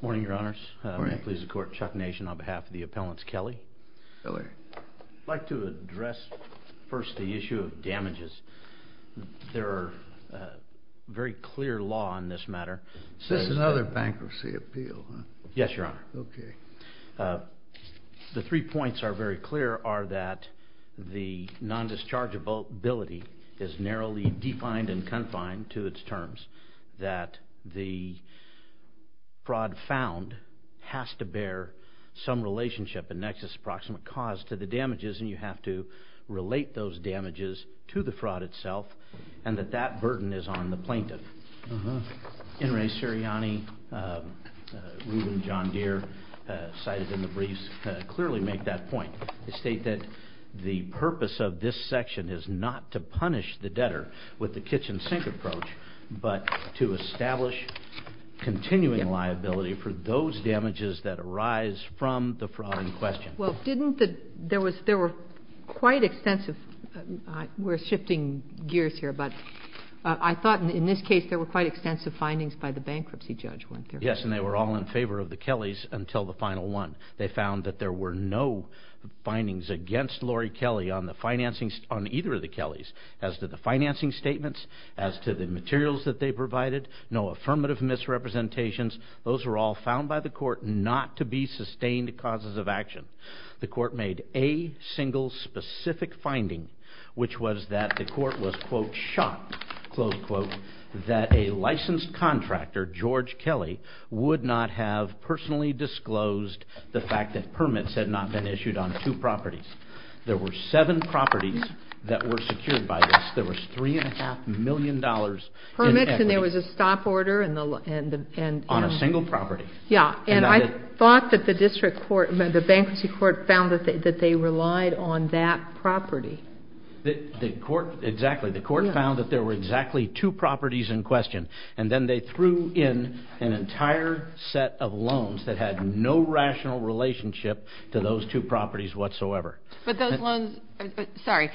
Morning, Your Honors. May it please the Court, Chuck Nation on behalf of the appellants, Kelly. Kelly. I'd like to address first the issue of damages. There are very clear law on this matter. This is another bankruptcy appeal, huh? Yes, Your Honor. Okay. The three points are very clear are that the nondischargeability is narrowly defined and confined to its terms, that the fraud found has to bear some relationship, a nexus, approximate cause to the damages, and you have to relate those damages to the fraud itself, and that that burden is on the plaintiff. In re Sirianni, Reuben John Deere cited in the briefs clearly make that point. They state that the purpose of this section is not to punish the debtor with the kitchen sink approach, but to establish continuing liability for those damages that arise from the fraud in question. Well, didn't the – there were quite extensive – we're shifting gears here, but I thought in this case there were quite extensive findings by the bankruptcy judge, weren't there? Yes, and they were all in favor of the Kellys until the final one. They found that there were no findings against Lori Kelly on either of the Kellys as to the financing statements, as to the materials that they provided, no affirmative misrepresentations. Those were all found by the court not to be sustained causes of action. The court made a single specific finding, which was that the court was, quote, shot, close quote, that a licensed contractor, George Kelly, would not have personally disclosed the fact that permits had not been issued on two properties. There were seven properties that were secured by this. There was $3.5 million in equities. Permits, and there was a stop order. On a single property. Yeah, and I thought that the district court, the bankruptcy court, found that they relied on that property. The court, exactly, the court found that there were exactly two properties in question, and then they threw in an entire set of loans that had no rational relationship to those two properties whatsoever. But those loans, sorry,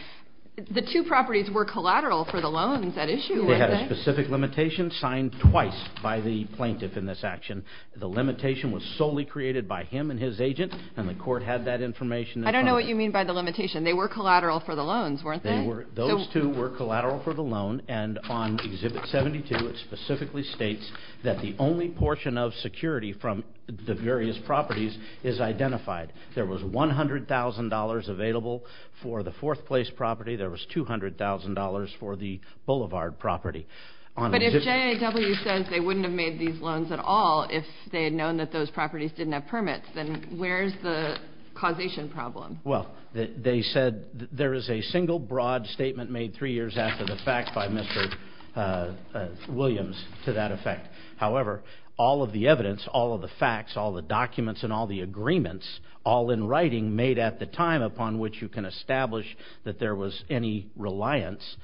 the two properties were collateral for the loans at issue, weren't they? They had a specific limitation signed twice by the plaintiff in this action. The limitation was solely created by him and his agent, and the court had that information. I don't know what you mean by the limitation. They were collateral for the loans, weren't they? Those two were collateral for the loan, and on Exhibit 72 it specifically states that the only portion of security from the various properties is identified. There was $100,000 available for the fourth place property. There was $200,000 for the boulevard property. But if J.A.W. says they wouldn't have made these loans at all if they had known that those properties didn't have permits, then where's the causation problem? Well, they said there is a single broad statement made three years after the fact by Mr. Williams to that effect. However, all of the evidence, all of the facts, all the documents, and all the agreements, all in writing made at the time upon which you can establish that there was any reliance,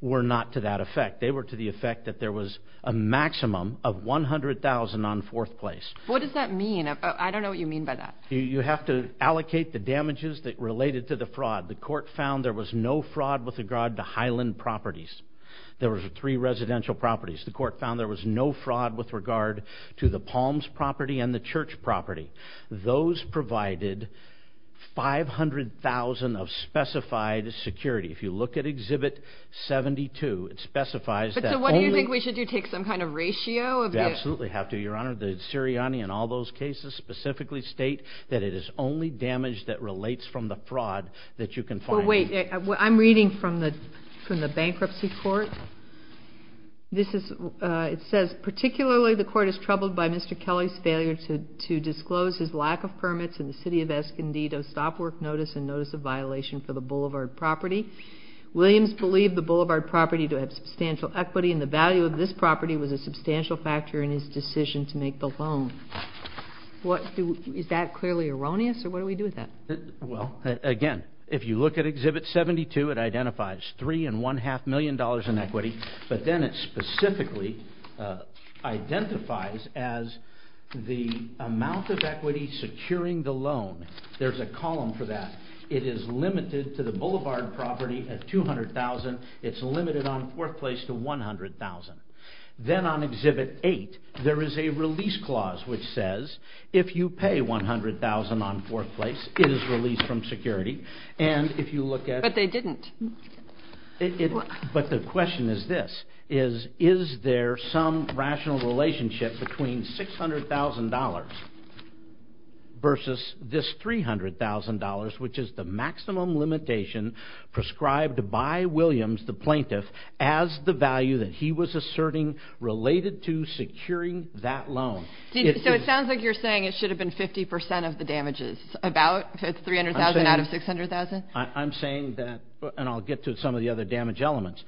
were not to that effect. They were to the effect that there was a maximum of $100,000 on fourth place. What does that mean? I don't know what you mean by that. You have to allocate the damages that related to the fraud. The court found there was no fraud with regard to Highland properties. There were three residential properties. The court found there was no fraud with regard to the Palms property and the Church property. Those provided $500,000 of specified security. If you look at Exhibit 72, it specifies that only— But so what do you think we should do, take some kind of ratio of the— You absolutely have to, Your Honor. The Sirianni and all those cases specifically state that it is only damage that relates from the fraud that you can find. Well, wait. I'm reading from the bankruptcy court. This is—it says, particularly the court is troubled by Mr. Kelly's failure to disclose his lack of permits in the city of Escondido stop work notice and notice of violation for the Boulevard property. Williams believed the Boulevard property to have substantial equity and the value of this property was a substantial factor in his decision to make the loan. Is that clearly erroneous, or what do we do with that? Well, again, if you look at Exhibit 72, it identifies $3.5 million in equity, but then it specifically identifies as the amount of equity securing the loan. There's a column for that. It is limited to the Boulevard property at $200,000. It's limited on Fourth Place to $100,000. Then on Exhibit 8, there is a release clause which says, if you pay $100,000 on Fourth Place, it is released from security. And if you look at— But they didn't. But the question is this. Is there some rational relationship between $600,000 versus this $300,000, which is the maximum limitation prescribed by Williams, the plaintiff, as the value that he was asserting related to securing that loan? So it sounds like you're saying it should have been 50 percent of the damages, about $300,000 out of $600,000? I'm saying that—and I'll get to some of the other damage elements.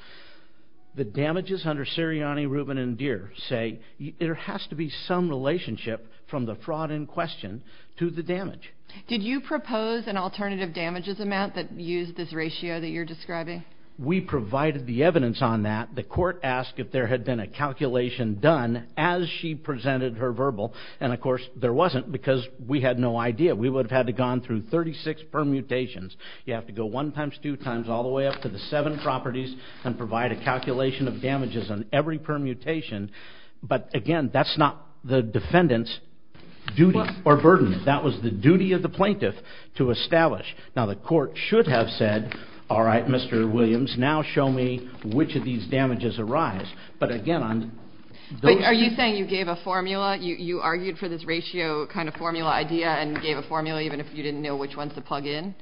The damages under Sirianni, Rubin, and Deere say there has to be some relationship from the fraud in question to the damage. Did you propose an alternative damages amount that used this ratio that you're describing? We provided the evidence on that. The court asked if there had been a calculation done as she presented her verbal, and, of course, there wasn't because we had no idea. We would have had to have gone through 36 permutations. You have to go one times, two times, all the way up to the seven properties and provide a calculation of damages on every permutation. But, again, that's not the defendant's duty or burden. That was the duty of the plaintiff to establish. Now, the court should have said, all right, Mr. Williams, now show me which of these damages arise. But, again, on those— Are you saying you gave a formula? You argued for this ratio kind of formula idea and gave a formula even if you didn't know which ones to plug in?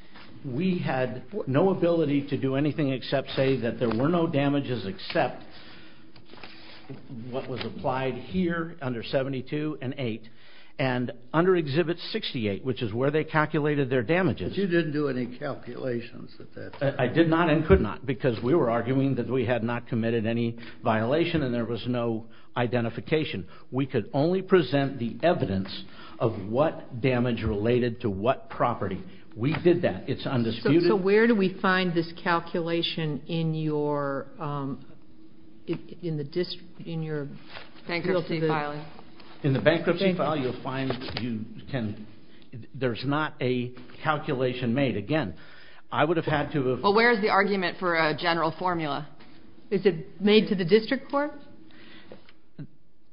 We had no ability to do anything except say that there were no damages except what was applied here under 72 and 8 and under Exhibit 68, which is where they calculated their damages. But you didn't do any calculations at that time. I did not and could not because we were arguing that we had not committed any violation and there was no identification. We could only present the evidence of what damage related to what property. We did that. It's undisputed. So where do we find this calculation in your bankruptcy filing? In the bankruptcy file you'll find you can—there's not a calculation made. Again, I would have had to have— Well, where is the argument for a general formula? Is it made to the district court?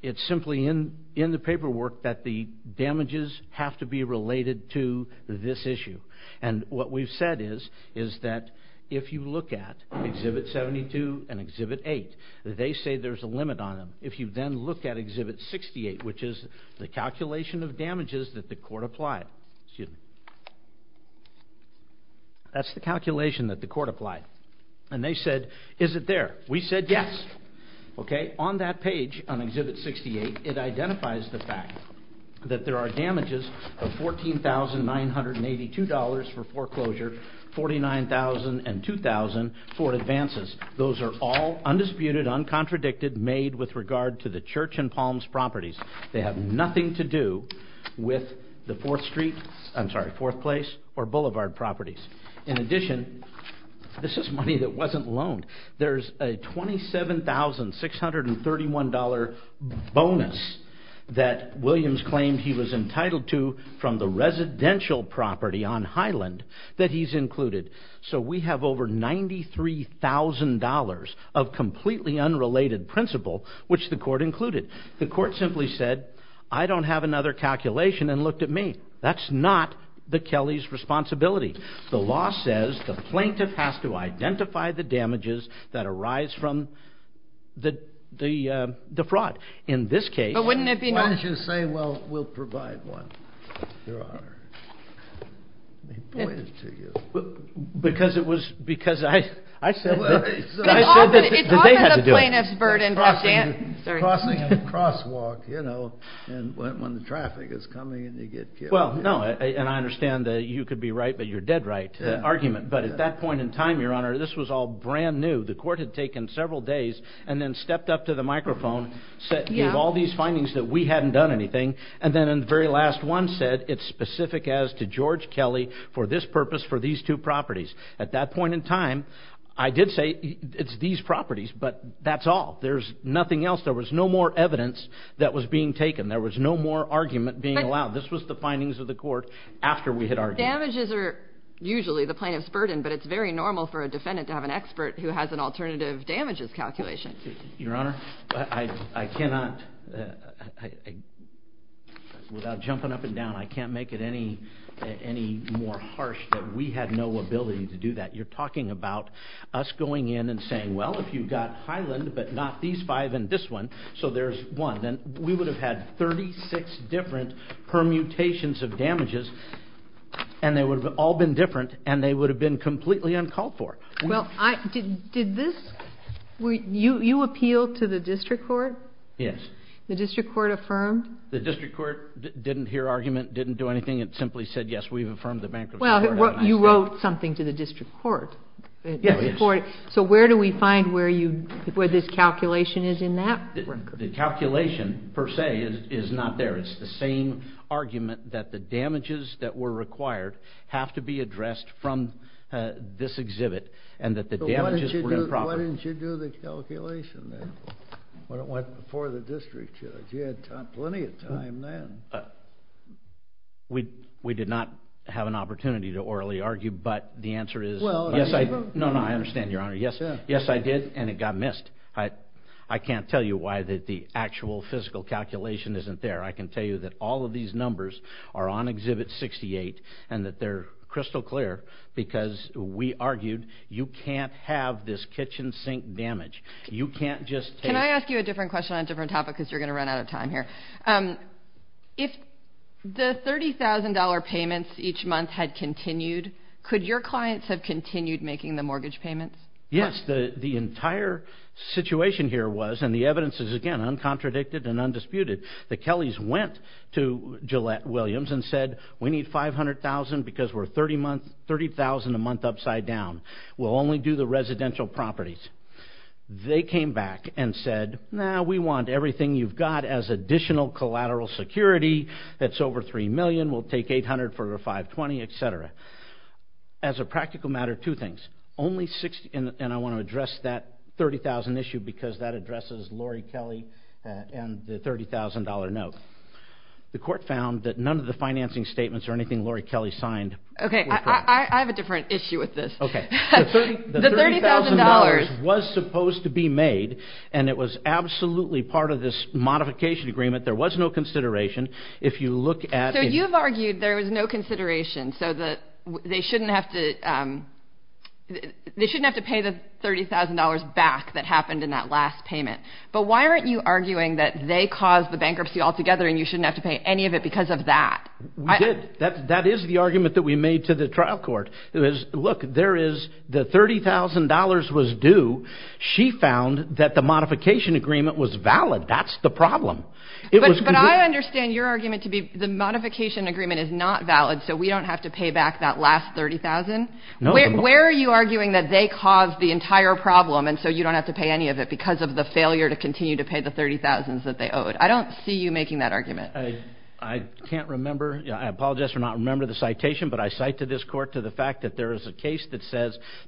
It's simply in the paperwork that the damages have to be related to this issue. And what we've said is that if you look at Exhibit 72 and Exhibit 8, they say there's a limit on them. If you then look at Exhibit 68, which is the calculation of damages that the court applied, that's the calculation that the court applied, and they said, is it there? We said yes. Okay? On that page, on Exhibit 68, it identifies the fact that there are damages of $14,982 for foreclosure, $49,000 and $2,000 for advances. Those are all undisputed, uncontradicted, made with regard to the Church and Palms properties. They have nothing to do with the Fourth Street— I'm sorry, Fourth Place or Boulevard properties. In addition, this is money that wasn't loaned. There's a $27,631 bonus that Williams claimed he was entitled to from the residential property on Highland that he's included. So we have over $93,000 of completely unrelated principal, which the court included. The court simply said, I don't have another calculation, and looked at me. That's not the Kelly's responsibility. The law says the plaintiff has to identify the damages that arise from the fraud. In this case— But wouldn't it be— Why don't you say, well, we'll provide one, Your Honor? Let me point it to you. Because it was—because I said— It's often the plaintiff's burden. Crossing a crosswalk, you know, when the traffic is coming and you get killed. Well, no, and I understand that you could be right, but you're dead right to the argument. But at that point in time, Your Honor, this was all brand new. The court had taken several days and then stepped up to the microphone, gave all these findings that we hadn't done anything, and then in the very last one said, it's specific as to George Kelly for this purpose, for these two properties. At that point in time, I did say it's these properties, but that's all. There's nothing else. There was no more evidence that was being taken. There was no more argument being allowed. This was the findings of the court after we had argued. Damages are usually the plaintiff's burden, but it's very normal for a defendant to have an expert who has an alternative damages calculation. Your Honor, I cannot—without jumping up and down, I can't make it any more harsh that we had no ability to do that. You're talking about us going in and saying, well, if you've got Highland, but not these five and this one, so there's one, then we would have had 36 different permutations of damages. And they would have all been different, and they would have been completely uncalled for. Well, did this—you appealed to the district court? Yes. The district court affirmed? The district court didn't hear argument, didn't do anything. It simply said, yes, we've affirmed the bankruptcy. Well, you wrote something to the district court. Yes. So where do we find where this calculation is in that? The calculation, per se, is not there. It's the same argument that the damages that were required have to be addressed from this exhibit and that the damages were improper. Why didn't you do the calculation then? Why don't you do it before the district judge? You had plenty of time then. We did not have an opportunity to orally argue, but the answer is— Well— No, no, I understand, Your Honor. Yes, I did, and it got missed. I can't tell you why the actual physical calculation isn't there. I can tell you that all of these numbers are on Exhibit 68 and that they're crystal clear because we argued you can't have this kitchen sink damage. You can't just take— Can I ask you a different question on a different topic because you're going to run out of time here? If the $30,000 payments each month had continued, could your clients have continued making the mortgage payments? Yes. The entire situation here was, and the evidence is, again, contradicted and undisputed. The Kellys went to Gillette-Williams and said, We need $500,000 because we're $30,000 a month upside down. We'll only do the residential properties. They came back and said, No, we want everything you've got as additional collateral security. That's over $3 million. We'll take $800,000 for a $520,000, et cetera. As a practical matter, two things. I want to address that $30,000 issue because that addresses Lori Kelly and the $30,000 note. The court found that none of the financing statements or anything Lori Kelly signed were correct. I have a different issue with this. The $30,000 was supposed to be made, and it was absolutely part of this modification agreement. There was no consideration. So you've argued there was no consideration so they shouldn't have to pay the $30,000 back that happened in that last payment. But why aren't you arguing that they caused the bankruptcy altogether and you shouldn't have to pay any of it because of that? We did. That is the argument that we made to the trial court. Look, the $30,000 was due. She found that the modification agreement was valid. That's the problem. But I understand your argument to be the modification agreement is not valid so we don't have to pay back that last $30,000. Where are you arguing that they caused the entire problem and so you don't have to pay any of it because of the failure to continue to pay the $30,000 that they owed? I don't see you making that argument. I can't remember. I apologize for not remembering the citation, but I cite to this court the fact that there is a case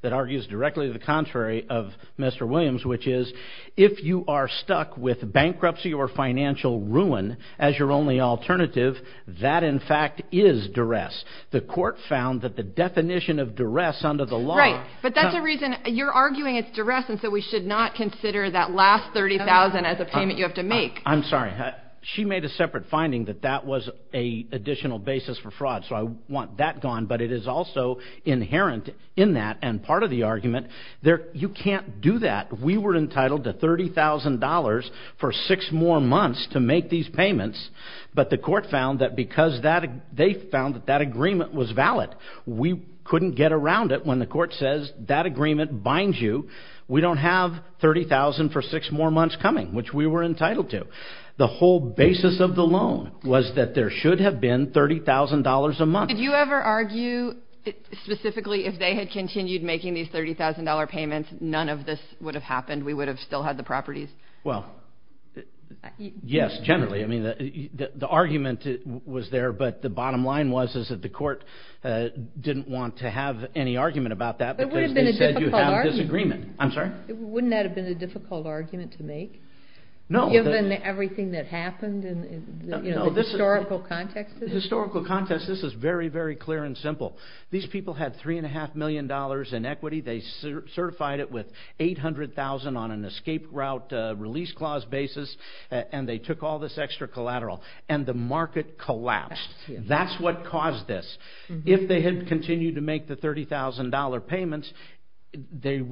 that argues directly the contrary of Mr. Williams, which is if you are stuck with bankruptcy or financial ruin as your only alternative, that in fact is duress. The court found that the definition of duress under the law... Right, but that's the reason you're arguing it's duress and so we should not consider that last $30,000 as a payment you have to make. I'm sorry. She made a separate finding that that was an additional basis for fraud so I want that gone, but it is also inherent in that and part of the argument. You can't do that. We were entitled to $30,000 for six more months to make these payments, but the court found that because they found that that agreement was valid, we couldn't get around it when the court says that agreement binds you. We don't have $30,000 for six more months coming, which we were entitled to. The whole basis of the loan was that there should have been $30,000 a month. Did you ever argue specifically if they had continued making these $30,000 payments, none of this would have happened? We would have still had the properties? Well, yes, generally. I mean, the argument was there, but the bottom line was that the court didn't want to have any argument about that because they said you had a disagreement. I'm sorry? Wouldn't that have been a difficult argument to make? No. Given everything that happened in the historical context? The historical context, this is very, very clear and simple. These people had $3.5 million in equity. They certified it with $800,000 on an escape route release clause basis, and they took all this extra collateral, and the market collapsed. That's what caused this. If they had continued to make the $30,000 payments, it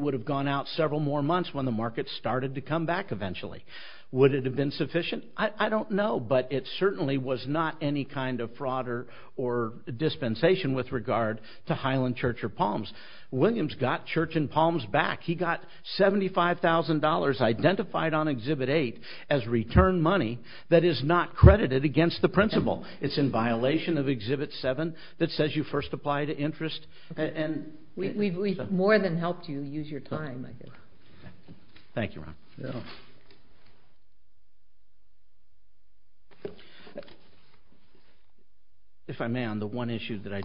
would have gone out several more months when the market started to come back eventually. Would it have been sufficient? I don't know, but it certainly was not any kind of fraud or dispensation with regard to Highland Church or Palms. Williams got Church and Palms back. He got $75,000 identified on Exhibit 8 as return money that is not credited against the principal. It's in violation of Exhibit 7 that says you first apply to interest. We've more than helped you use your time, I think. Thank you, Ron. If I may, on the one issue that I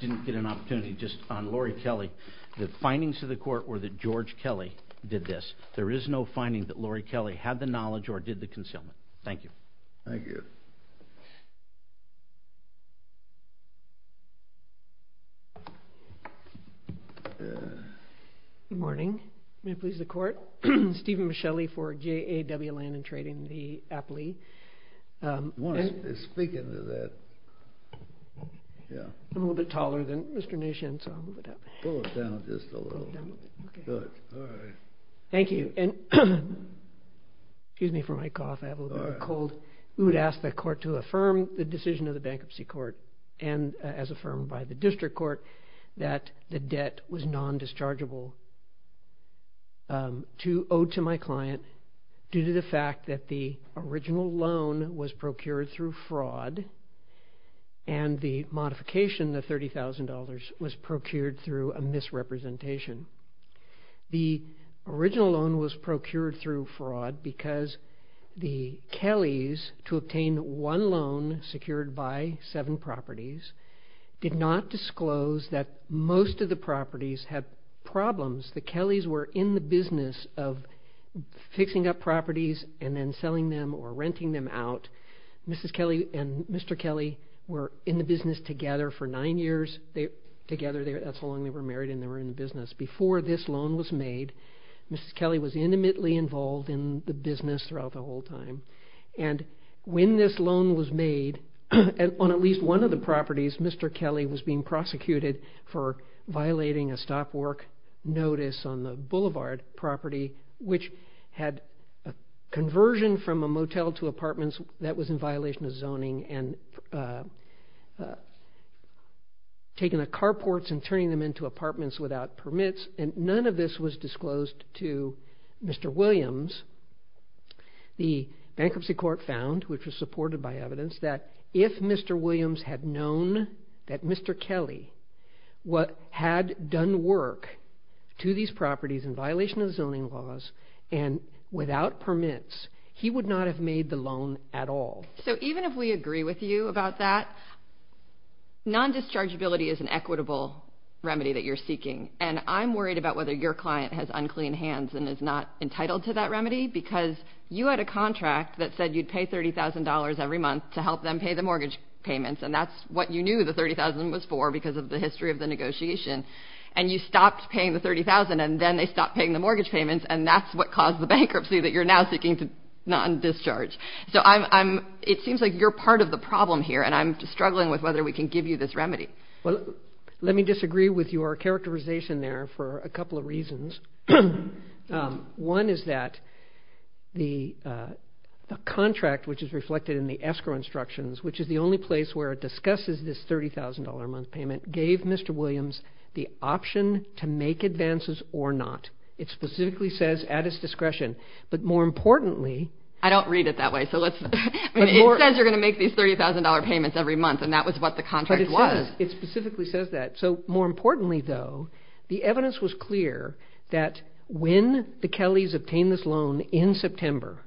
didn't get an opportunity, just on Lori Kelly, the findings to the court were that George Kelly did this. There is no finding that Lori Kelly had the knowledge or did the concealment. Thank you. Thank you. Good morning. May it please the court. Stephen Michelli for JAW Land and Trading, the Apley. Speaking to that, yeah. I'm a little bit taller than Mr. Nishin, so I'll move it up. Pull it down just a little. Pull it down a little bit. Good. All right. Thank you. Excuse me for my cough. I have a little bit of a cold. We would ask the court to affirm the decision of the bankruptcy court and as affirmed by the district court that the debt was non-dischargeable owed to my client due to the fact that the original loan was procured through fraud and the modification, the $30,000, was procured through a misrepresentation. The original loan was procured through fraud because the Kellys, to obtain one loan secured by seven properties, did not disclose that most of the properties had problems. The Kellys were in the business of fixing up properties and then selling them or renting them out. Mrs. Kelly and Mr. Kelly were in the business together for nine years. That's how long they were married and they were in the business. Before this loan was made, Mrs. Kelly was intimately involved in the business throughout the whole time. When this loan was made, on at least one of the properties, Mr. Kelly was being prosecuted for violating a stop work notice on the boulevard property, which had a conversion from a motel to apartments. That was in violation of zoning and taking the carports and turning them into apartments without permits. None of this was disclosed to Mr. Williams. The bankruptcy court found, which was supported by evidence, that if Mr. Williams had known that Mr. Kelly had done work to these properties in violation of zoning laws and without permits, he would not have made the loan at all. So even if we agree with you about that, non-dischargeability is an equitable remedy that you're seeking. And I'm worried about whether your client has unclean hands and is not entitled to that remedy, because you had a contract that said you'd pay $30,000 every month to help them pay the mortgage payments, and that's what you knew the $30,000 was for because of the history of the negotiation. And you stopped paying the $30,000, and then they stopped paying the mortgage payments, and that's what caused the bankruptcy that you're now seeking to non-discharge. So it seems like you're part of the problem here, and I'm struggling with whether we can give you this remedy. Well, let me disagree with your characterization there for a couple of reasons. One is that the contract, which is reflected in the escrow instructions, which is the only place where it discusses this $30,000 a month payment, gave Mr. Williams the option to make advances or not. It specifically says at his discretion. But more importantly— I don't read it that way. It says you're going to make these $30,000 payments every month, and that was what the contract was. It specifically says that. So more importantly, though, the evidence was clear that when the Kellys obtained this loan in September,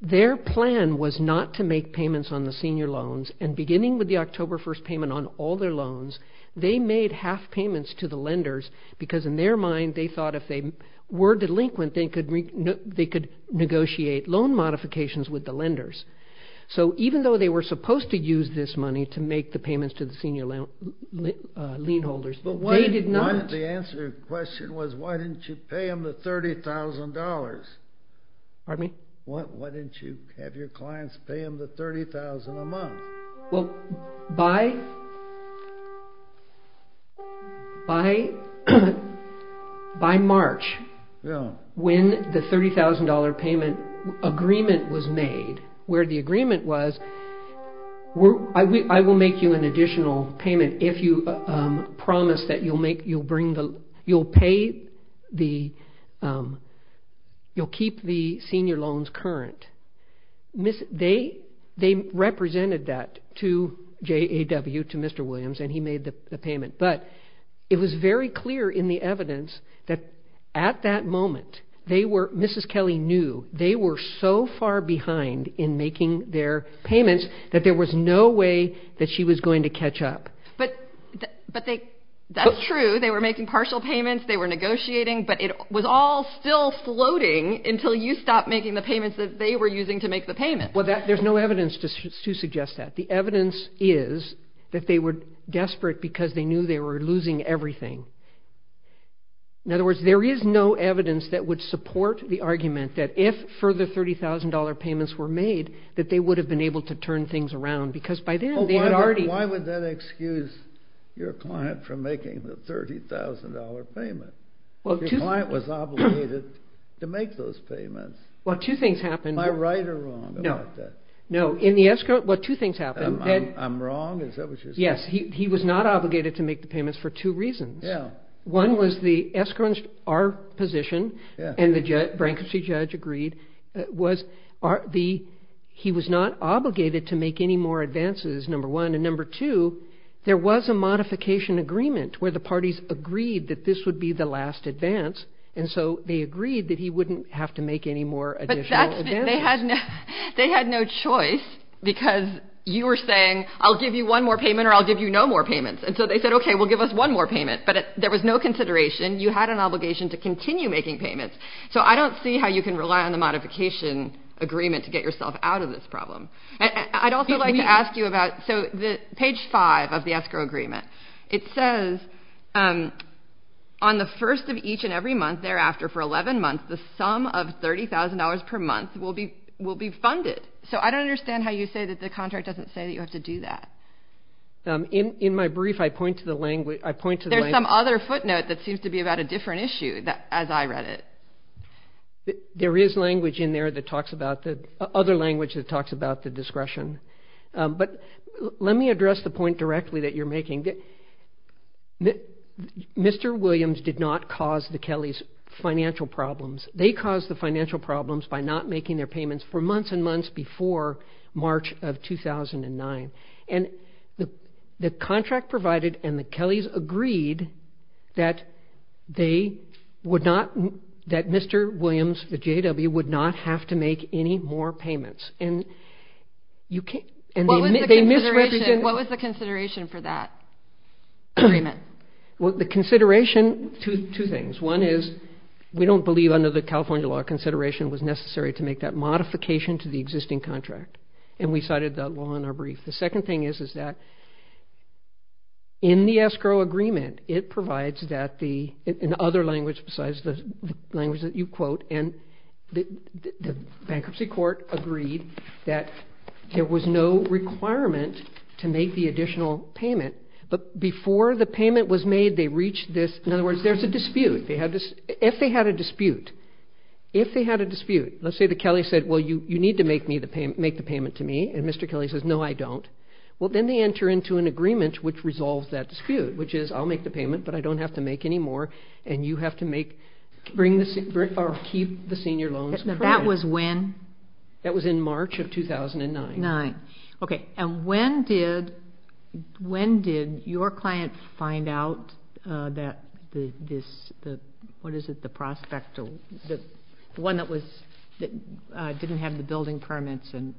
their plan was not to make payments on the senior loans. And beginning with the October 1st payment on all their loans, they made half payments to the lenders because in their mind they thought if they were delinquent, they could negotiate loan modifications with the lenders. So even though they were supposed to use this money to make the payments to the senior lien holders, they did not— But why—the answer to your question was why didn't you pay them the $30,000? Pardon me? Why didn't you have your clients pay them the $30,000 a month? Well, by March, when the $30,000 payment agreement was made, where the agreement was, I will make you an additional payment if you promise that you'll pay the—you'll keep the senior loans current. They represented that to JAW, to Mr. Williams, and he made the payment. But it was very clear in the evidence that at that moment they were—Mrs. Kelly knew they were so far behind in making their payments that there was no way that she was going to catch up. But they—that's true. They were making partial payments. They were negotiating. But it was all still floating until you stopped making the payments that they were using to make the payments. Well, there's no evidence to suggest that. The evidence is that they were desperate because they knew they were losing everything. In other words, there is no evidence that would support the argument that if further $30,000 payments were made, that they would have been able to turn things around because by then they had already— Your client was obligated to make those payments. Well, two things happened. Am I right or wrong about that? No. No. In the escrow—well, two things happened. I'm wrong? Is that what you're saying? Yes. He was not obligated to make the payments for two reasons. Yeah. One was the escrow—our position, and the bankruptcy judge agreed, was the—he was not obligated to make any more advances, number one. And number two, there was a modification agreement where the parties agreed that this would be the last advance, and so they agreed that he wouldn't have to make any more additional advances. But that's—they had no choice because you were saying, I'll give you one more payment or I'll give you no more payments. And so they said, okay, we'll give us one more payment. But there was no consideration. You had an obligation to continue making payments. So I don't see how you can rely on the modification agreement to get yourself out of this problem. I'd also like to ask you about—so page five of the escrow agreement, it says, on the first of each and every month thereafter for 11 months, the sum of $30,000 per month will be funded. So I don't understand how you say that the contract doesn't say that you have to do that. In my brief, I point to the language—I point to the language— There's some other footnote that seems to be about a different issue as I read it. There is language in there that talks about the—other language that talks about the discretion. But let me address the point directly that you're making. Mr. Williams did not cause the Kellys financial problems. They caused the financial problems by not making their payments for months and months before March of 2009. And the contract provided and the Kellys agreed that they would not—that Mr. Williams, the J.W., would not have to make any more payments. And you can't—and they misrepresented— What was the consideration for that agreement? Well, the consideration—two things. One is we don't believe under the California law consideration was necessary to make that modification to the existing contract. And we cited that law in our brief. The second thing is that in the escrow agreement, it provides that the—in other language besides the language that you quote— and the bankruptcy court agreed that there was no requirement to make the additional payment. But before the payment was made, they reached this—in other words, there's a dispute. They had this—if they had a dispute, if they had a dispute, let's say the Kellys said, well, you need to make the payment to me. And Mr. Kelly says, no, I don't. Well, then they enter into an agreement which resolves that dispute, which is I'll make the payment, but I don't have to make any more and you have to make—bring the—or keep the senior loans. That was when? That was in March of 2009. Nine. Okay. And when did—when did your client find out that this—what is it, the prospect—the one that was—that didn't have the building permits and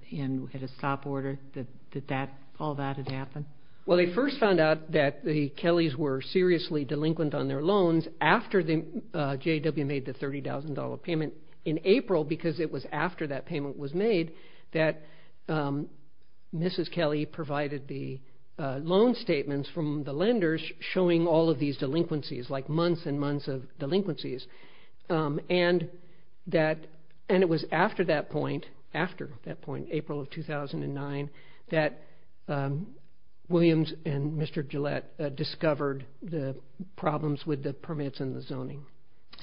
had a stop order, that that—all that had happened? Well, they first found out that the Kellys were seriously delinquent on their loans after the—J.A.W. made the $30,000 payment in April because it was after that payment was made that Mrs. Kelly provided the loan statements from the lenders showing all of these delinquencies, like months and months of delinquencies. And that—and it was after that point, after that point, April of 2009, that Williams and Mr. Gillette discovered the problems with the permits and the zoning.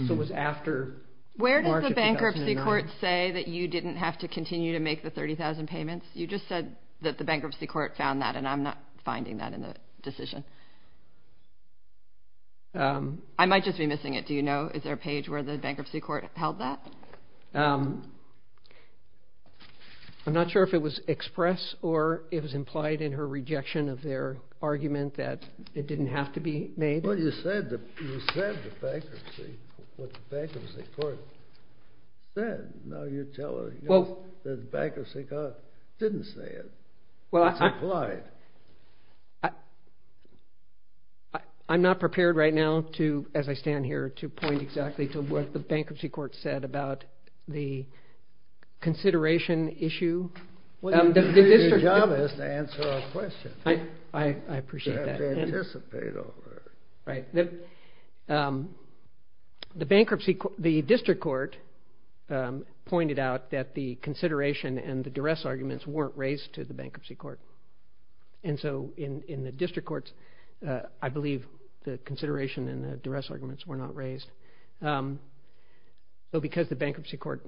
So it was after March of 2009. Did the court say that you didn't have to continue to make the $30,000 payments? You just said that the bankruptcy court found that, and I'm not finding that in the decision. I might just be missing it. Do you know, is there a page where the bankruptcy court held that? I'm not sure if it was expressed or it was implied in her rejection of their argument that it didn't have to be made. Well, you said the bankruptcy, what the bankruptcy court said. Now you're telling us that the bankruptcy court didn't say it. It's implied. I'm not prepared right now to, as I stand here, to point exactly to what the bankruptcy court said about the consideration issue. Well, your job is to answer our questions. I appreciate that. Right. The bankruptcy, the district court pointed out that the consideration and the duress arguments weren't raised to the bankruptcy court. And so in the district courts, I believe the consideration and the duress arguments were not raised. So because the bankruptcy court.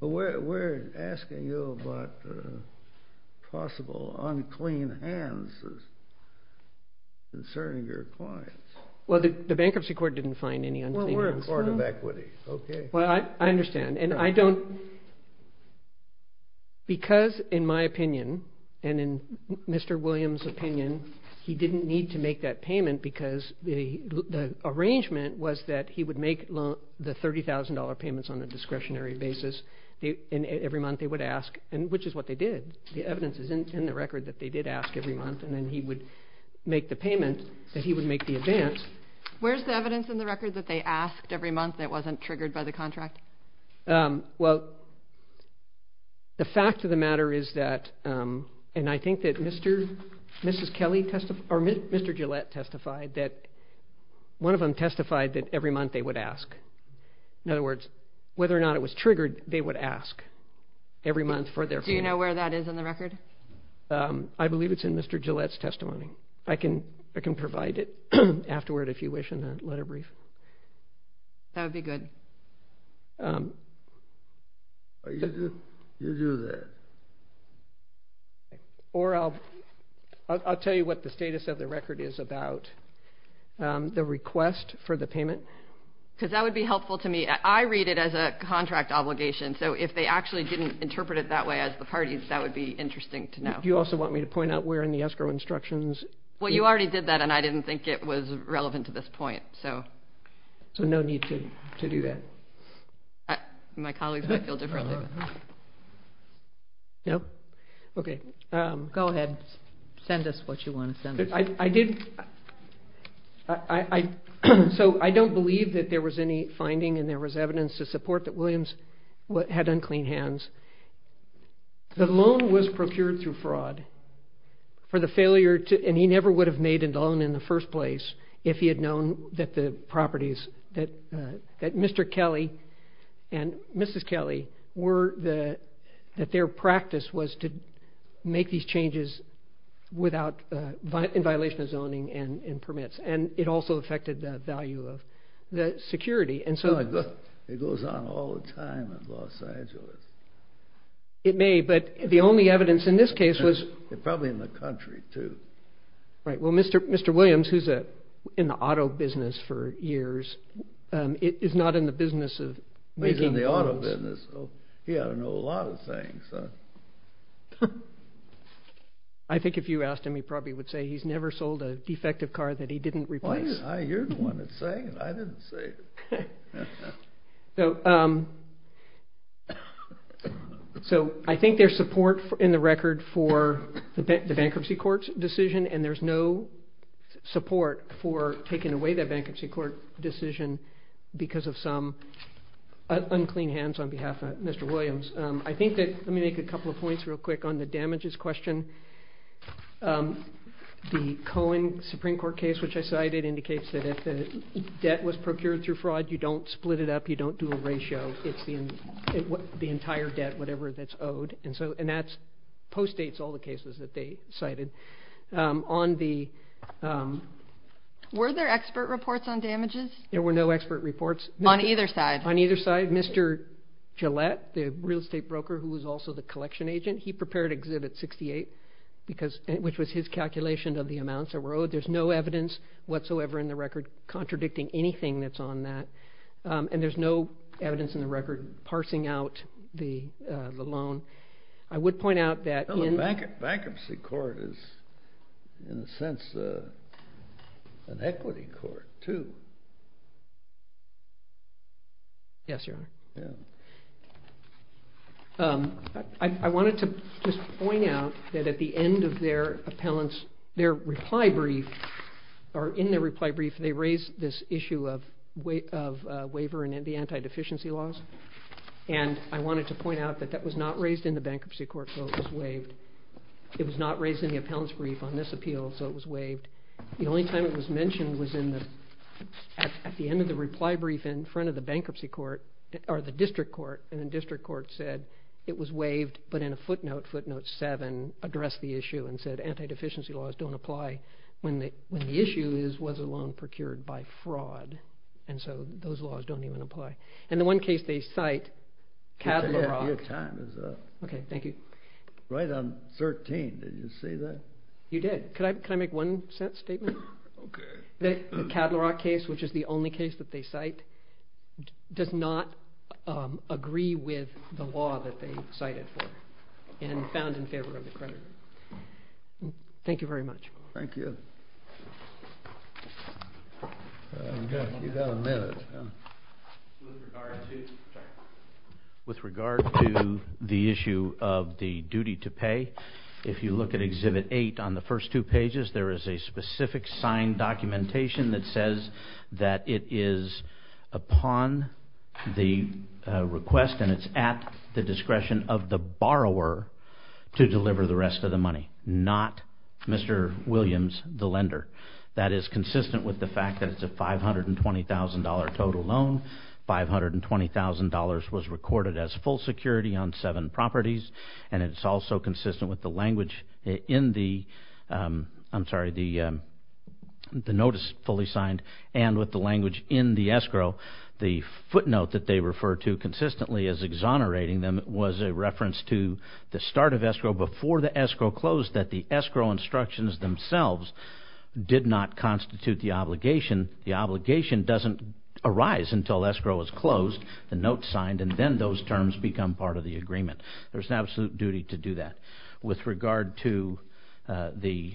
We're asking you about possible unclean hands concerning your clients. Well, the bankruptcy court didn't find any unclean hands. Well, we're a court of equity. Okay. Well, I understand. And I don't. Because in my opinion and in Mr. Williams' opinion, he didn't need to make that payment because the arrangement was that he would make the $30,000 payments on a discretionary basis. And every month they would ask, which is what they did. The evidence is in the record that they did ask every month. And then he would make the payment that he would make the advance. Where's the evidence in the record that they asked every month that wasn't triggered by the contract? Well, the fact of the matter is that, and I think that Mr. Kelly testified or Mr. Gillette testified that one of them testified that every month they would ask. In other words, whether or not it was triggered, they would ask every month for their payment. Do you know where that is in the record? Okay. I can provide it afterward if you wish in a letter brief. That would be good. You do that. Or I'll tell you what the status of the record is about the request for the payment. Because that would be helpful to me. I read it as a contract obligation. So if they actually didn't interpret it that way as the parties, that would be interesting to know. Do you also want me to point out where in the escrow instructions? Well, you already did that, and I didn't think it was relevant to this point. So no need to do that. My colleagues might feel differently. No? Okay. Go ahead. Send us what you want to send us. So I don't believe that there was any finding and there was evidence to support that Williams had unclean hands. The loan was procured through fraud. And he never would have made a loan in the first place if he had known that Mr. Kelly and Mrs. Kelly, that their practice was to make these changes in violation of zoning and permits. And it also affected the value of the security. It goes on all the time in Los Angeles. It may, but the only evidence in this case was- Probably in the country, too. Right. Well, Mr. Williams, who's in the auto business for years, is not in the business of making loans. He's in the auto business, so he ought to know a lot of things. I think if you asked him, he probably would say he's never sold a defective car that he didn't replace. You're the one that's saying it. I didn't say it. So I think there's support in the record for the bankruptcy court's decision, and there's no support for taking away that bankruptcy court decision because of some unclean hands on behalf of Mr. Williams. Let me make a couple of points real quick on the damages question. The Cohen Supreme Court case, which I cited, indicates that if the debt was procured through fraud, you don't split it up, you don't do a ratio. It's the entire debt, whatever that's owed. And that postdates all the cases that they cited. Were there expert reports on damages? There were no expert reports. On either side? On either side. Mr. Gillette, the real estate broker who was also the collection agent, he prepared Exhibit 68. Which was his calculation of the amounts that were owed. There's no evidence whatsoever in the record contradicting anything that's on that. And there's no evidence in the record parsing out the loan. I would point out that in- The bankruptcy court is, in a sense, an equity court, too. Yes, Your Honor. I wanted to just point out that at the end of their appellant's, their reply brief, or in their reply brief, they raised this issue of waiver and the anti-deficiency laws. And I wanted to point out that that was not raised in the bankruptcy court, so it was waived. It was not raised in the appellant's brief on this appeal, so it was waived. The only time it was mentioned was at the end of the reply brief in front of the bankruptcy court, or the district court. And the district court said it was waived, but in a footnote, footnote 7, addressed the issue and said anti-deficiency laws don't apply when the issue is, was a loan procured by fraud. And so those laws don't even apply. And the one case they cite, Cadlerock- Your time is up. Okay, thank you. Right on 13, did you say that? You did. Could I make one statement? Okay. The Cadlerock case, which is the only case that they cite, does not agree with the law that they cited for and found in favor of the creditor. Thank you very much. Thank you. You've got a minute. With regard to the issue of the duty to pay, if you look at exhibit 8 on the first two pages, there is a specific signed documentation that says that it is upon the request and it's at the discretion of the borrower to deliver the rest of the money, not Mr. Williams, the lender. That is consistent with the fact that it's a $520,000 total loan. $520,000 was recorded as full security on seven properties, and it's also consistent with the language in the-I'm sorry, the notice fully signed and with the language in the escrow. The footnote that they refer to consistently as exonerating them was a reference to the start of escrow before the escrow closed that the escrow instructions themselves did not constitute the obligation. The obligation doesn't arise until escrow is closed, the note signed, and then those terms become part of the agreement. There's an absolute duty to do that. With regard to the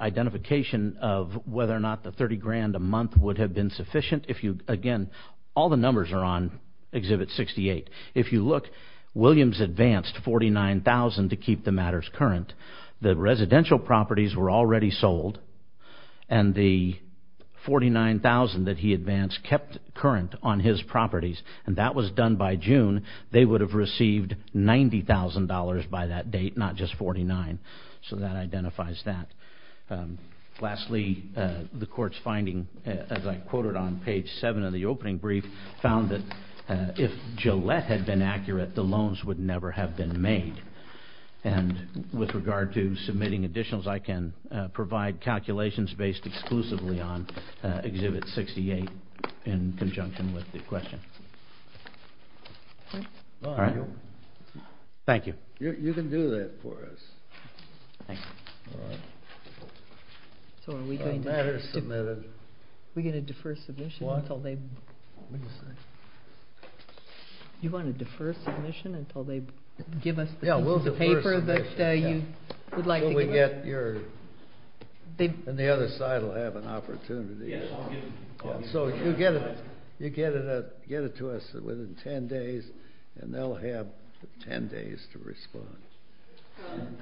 identification of whether or not the $30,000 a month would have been sufficient, again, all the numbers are on exhibit 68. If you look, Williams advanced $49,000 to keep the matters current. The residential properties were already sold, and the $49,000 that he advanced kept current on his properties, and that was done by June. They would have received $90,000 by that date, not just $49,000, so that identifies that. Lastly, the court's finding, as I quoted on page 7 of the opening brief, found that if Gillette had been accurate, the loans would never have been made. And with regard to submitting additionals, I can provide calculations based exclusively on exhibit 68 in conjunction with the question. Thank you. You can do that for us. So are we going to defer submission until they give us the piece of paper that you would like to give us? And the other side will have an opportunity. So you get it to us within 10 days, and they'll have 10 days to respond.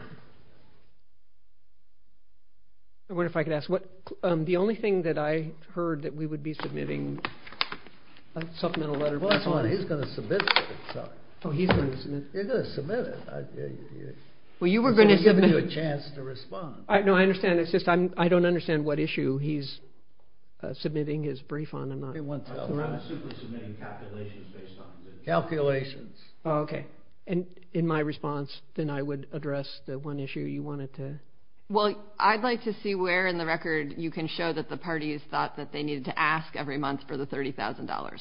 I wonder if I could ask, the only thing that I heard that we would be submitting, a supplemental letter. He's going to submit it. Oh, he's going to submit it. You're going to submit it. Well, you were going to submit it. He's given you a chance to respond. No, I understand. It's just I don't understand what issue he's submitting his brief on. I'm not sure. I'm super submitting calculations based on his exhibit. Calculations. Oh, okay. And in my response, then I would address the one issue you wanted to. Well, I'd like to see where in the record you can show that the parties thought that they needed to ask every month for the $30,000.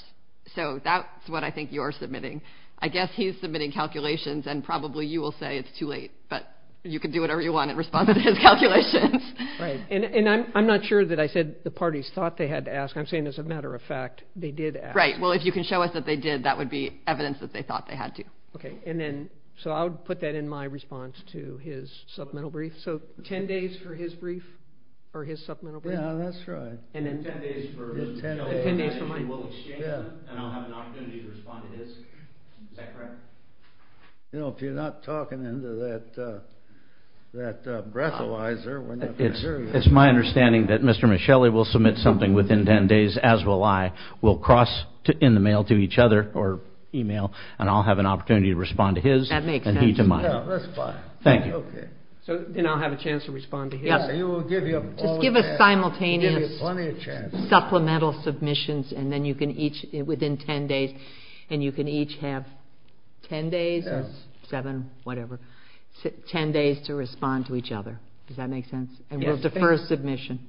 So that's what I think you're submitting. I guess he's submitting calculations, and probably you will say it's too late. But you can do whatever you want in response to his calculations. Right. And I'm not sure that I said the parties thought they had to ask. I'm saying, as a matter of fact, they did ask. Right. Well, if you can show us that they did, that would be evidence that they thought they had to. Okay. And then so I would put that in my response to his supplemental brief. So 10 days for his brief or his supplemental brief? Yeah, that's right. And then 10 days for mine. And I'll have an opportunity to respond to his. Is that correct? You know, if you're not talking into that breathalyzer. It's my understanding that Mr. Michelli will submit something within 10 days, as will I. We'll cross in the mail to each other or e-mail, and I'll have an opportunity to respond to his and he to mine. That makes sense. Yeah, that's fine. Thank you. Okay. And I'll have a chance to respond to his. Yeah, he will give you plenty of chance. Just give us simultaneous supplemental submissions, and then you can each, within 10 days, and you can each have 10 days or 7, whatever, 10 days to respond to each other. Does that make sense? And we'll defer submission.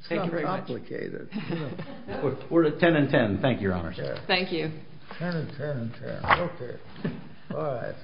It's not very complicated. We're at 10 and 10. Thank you, Your Honors. Thank you. 10 and 10 and 10. Okay. All right.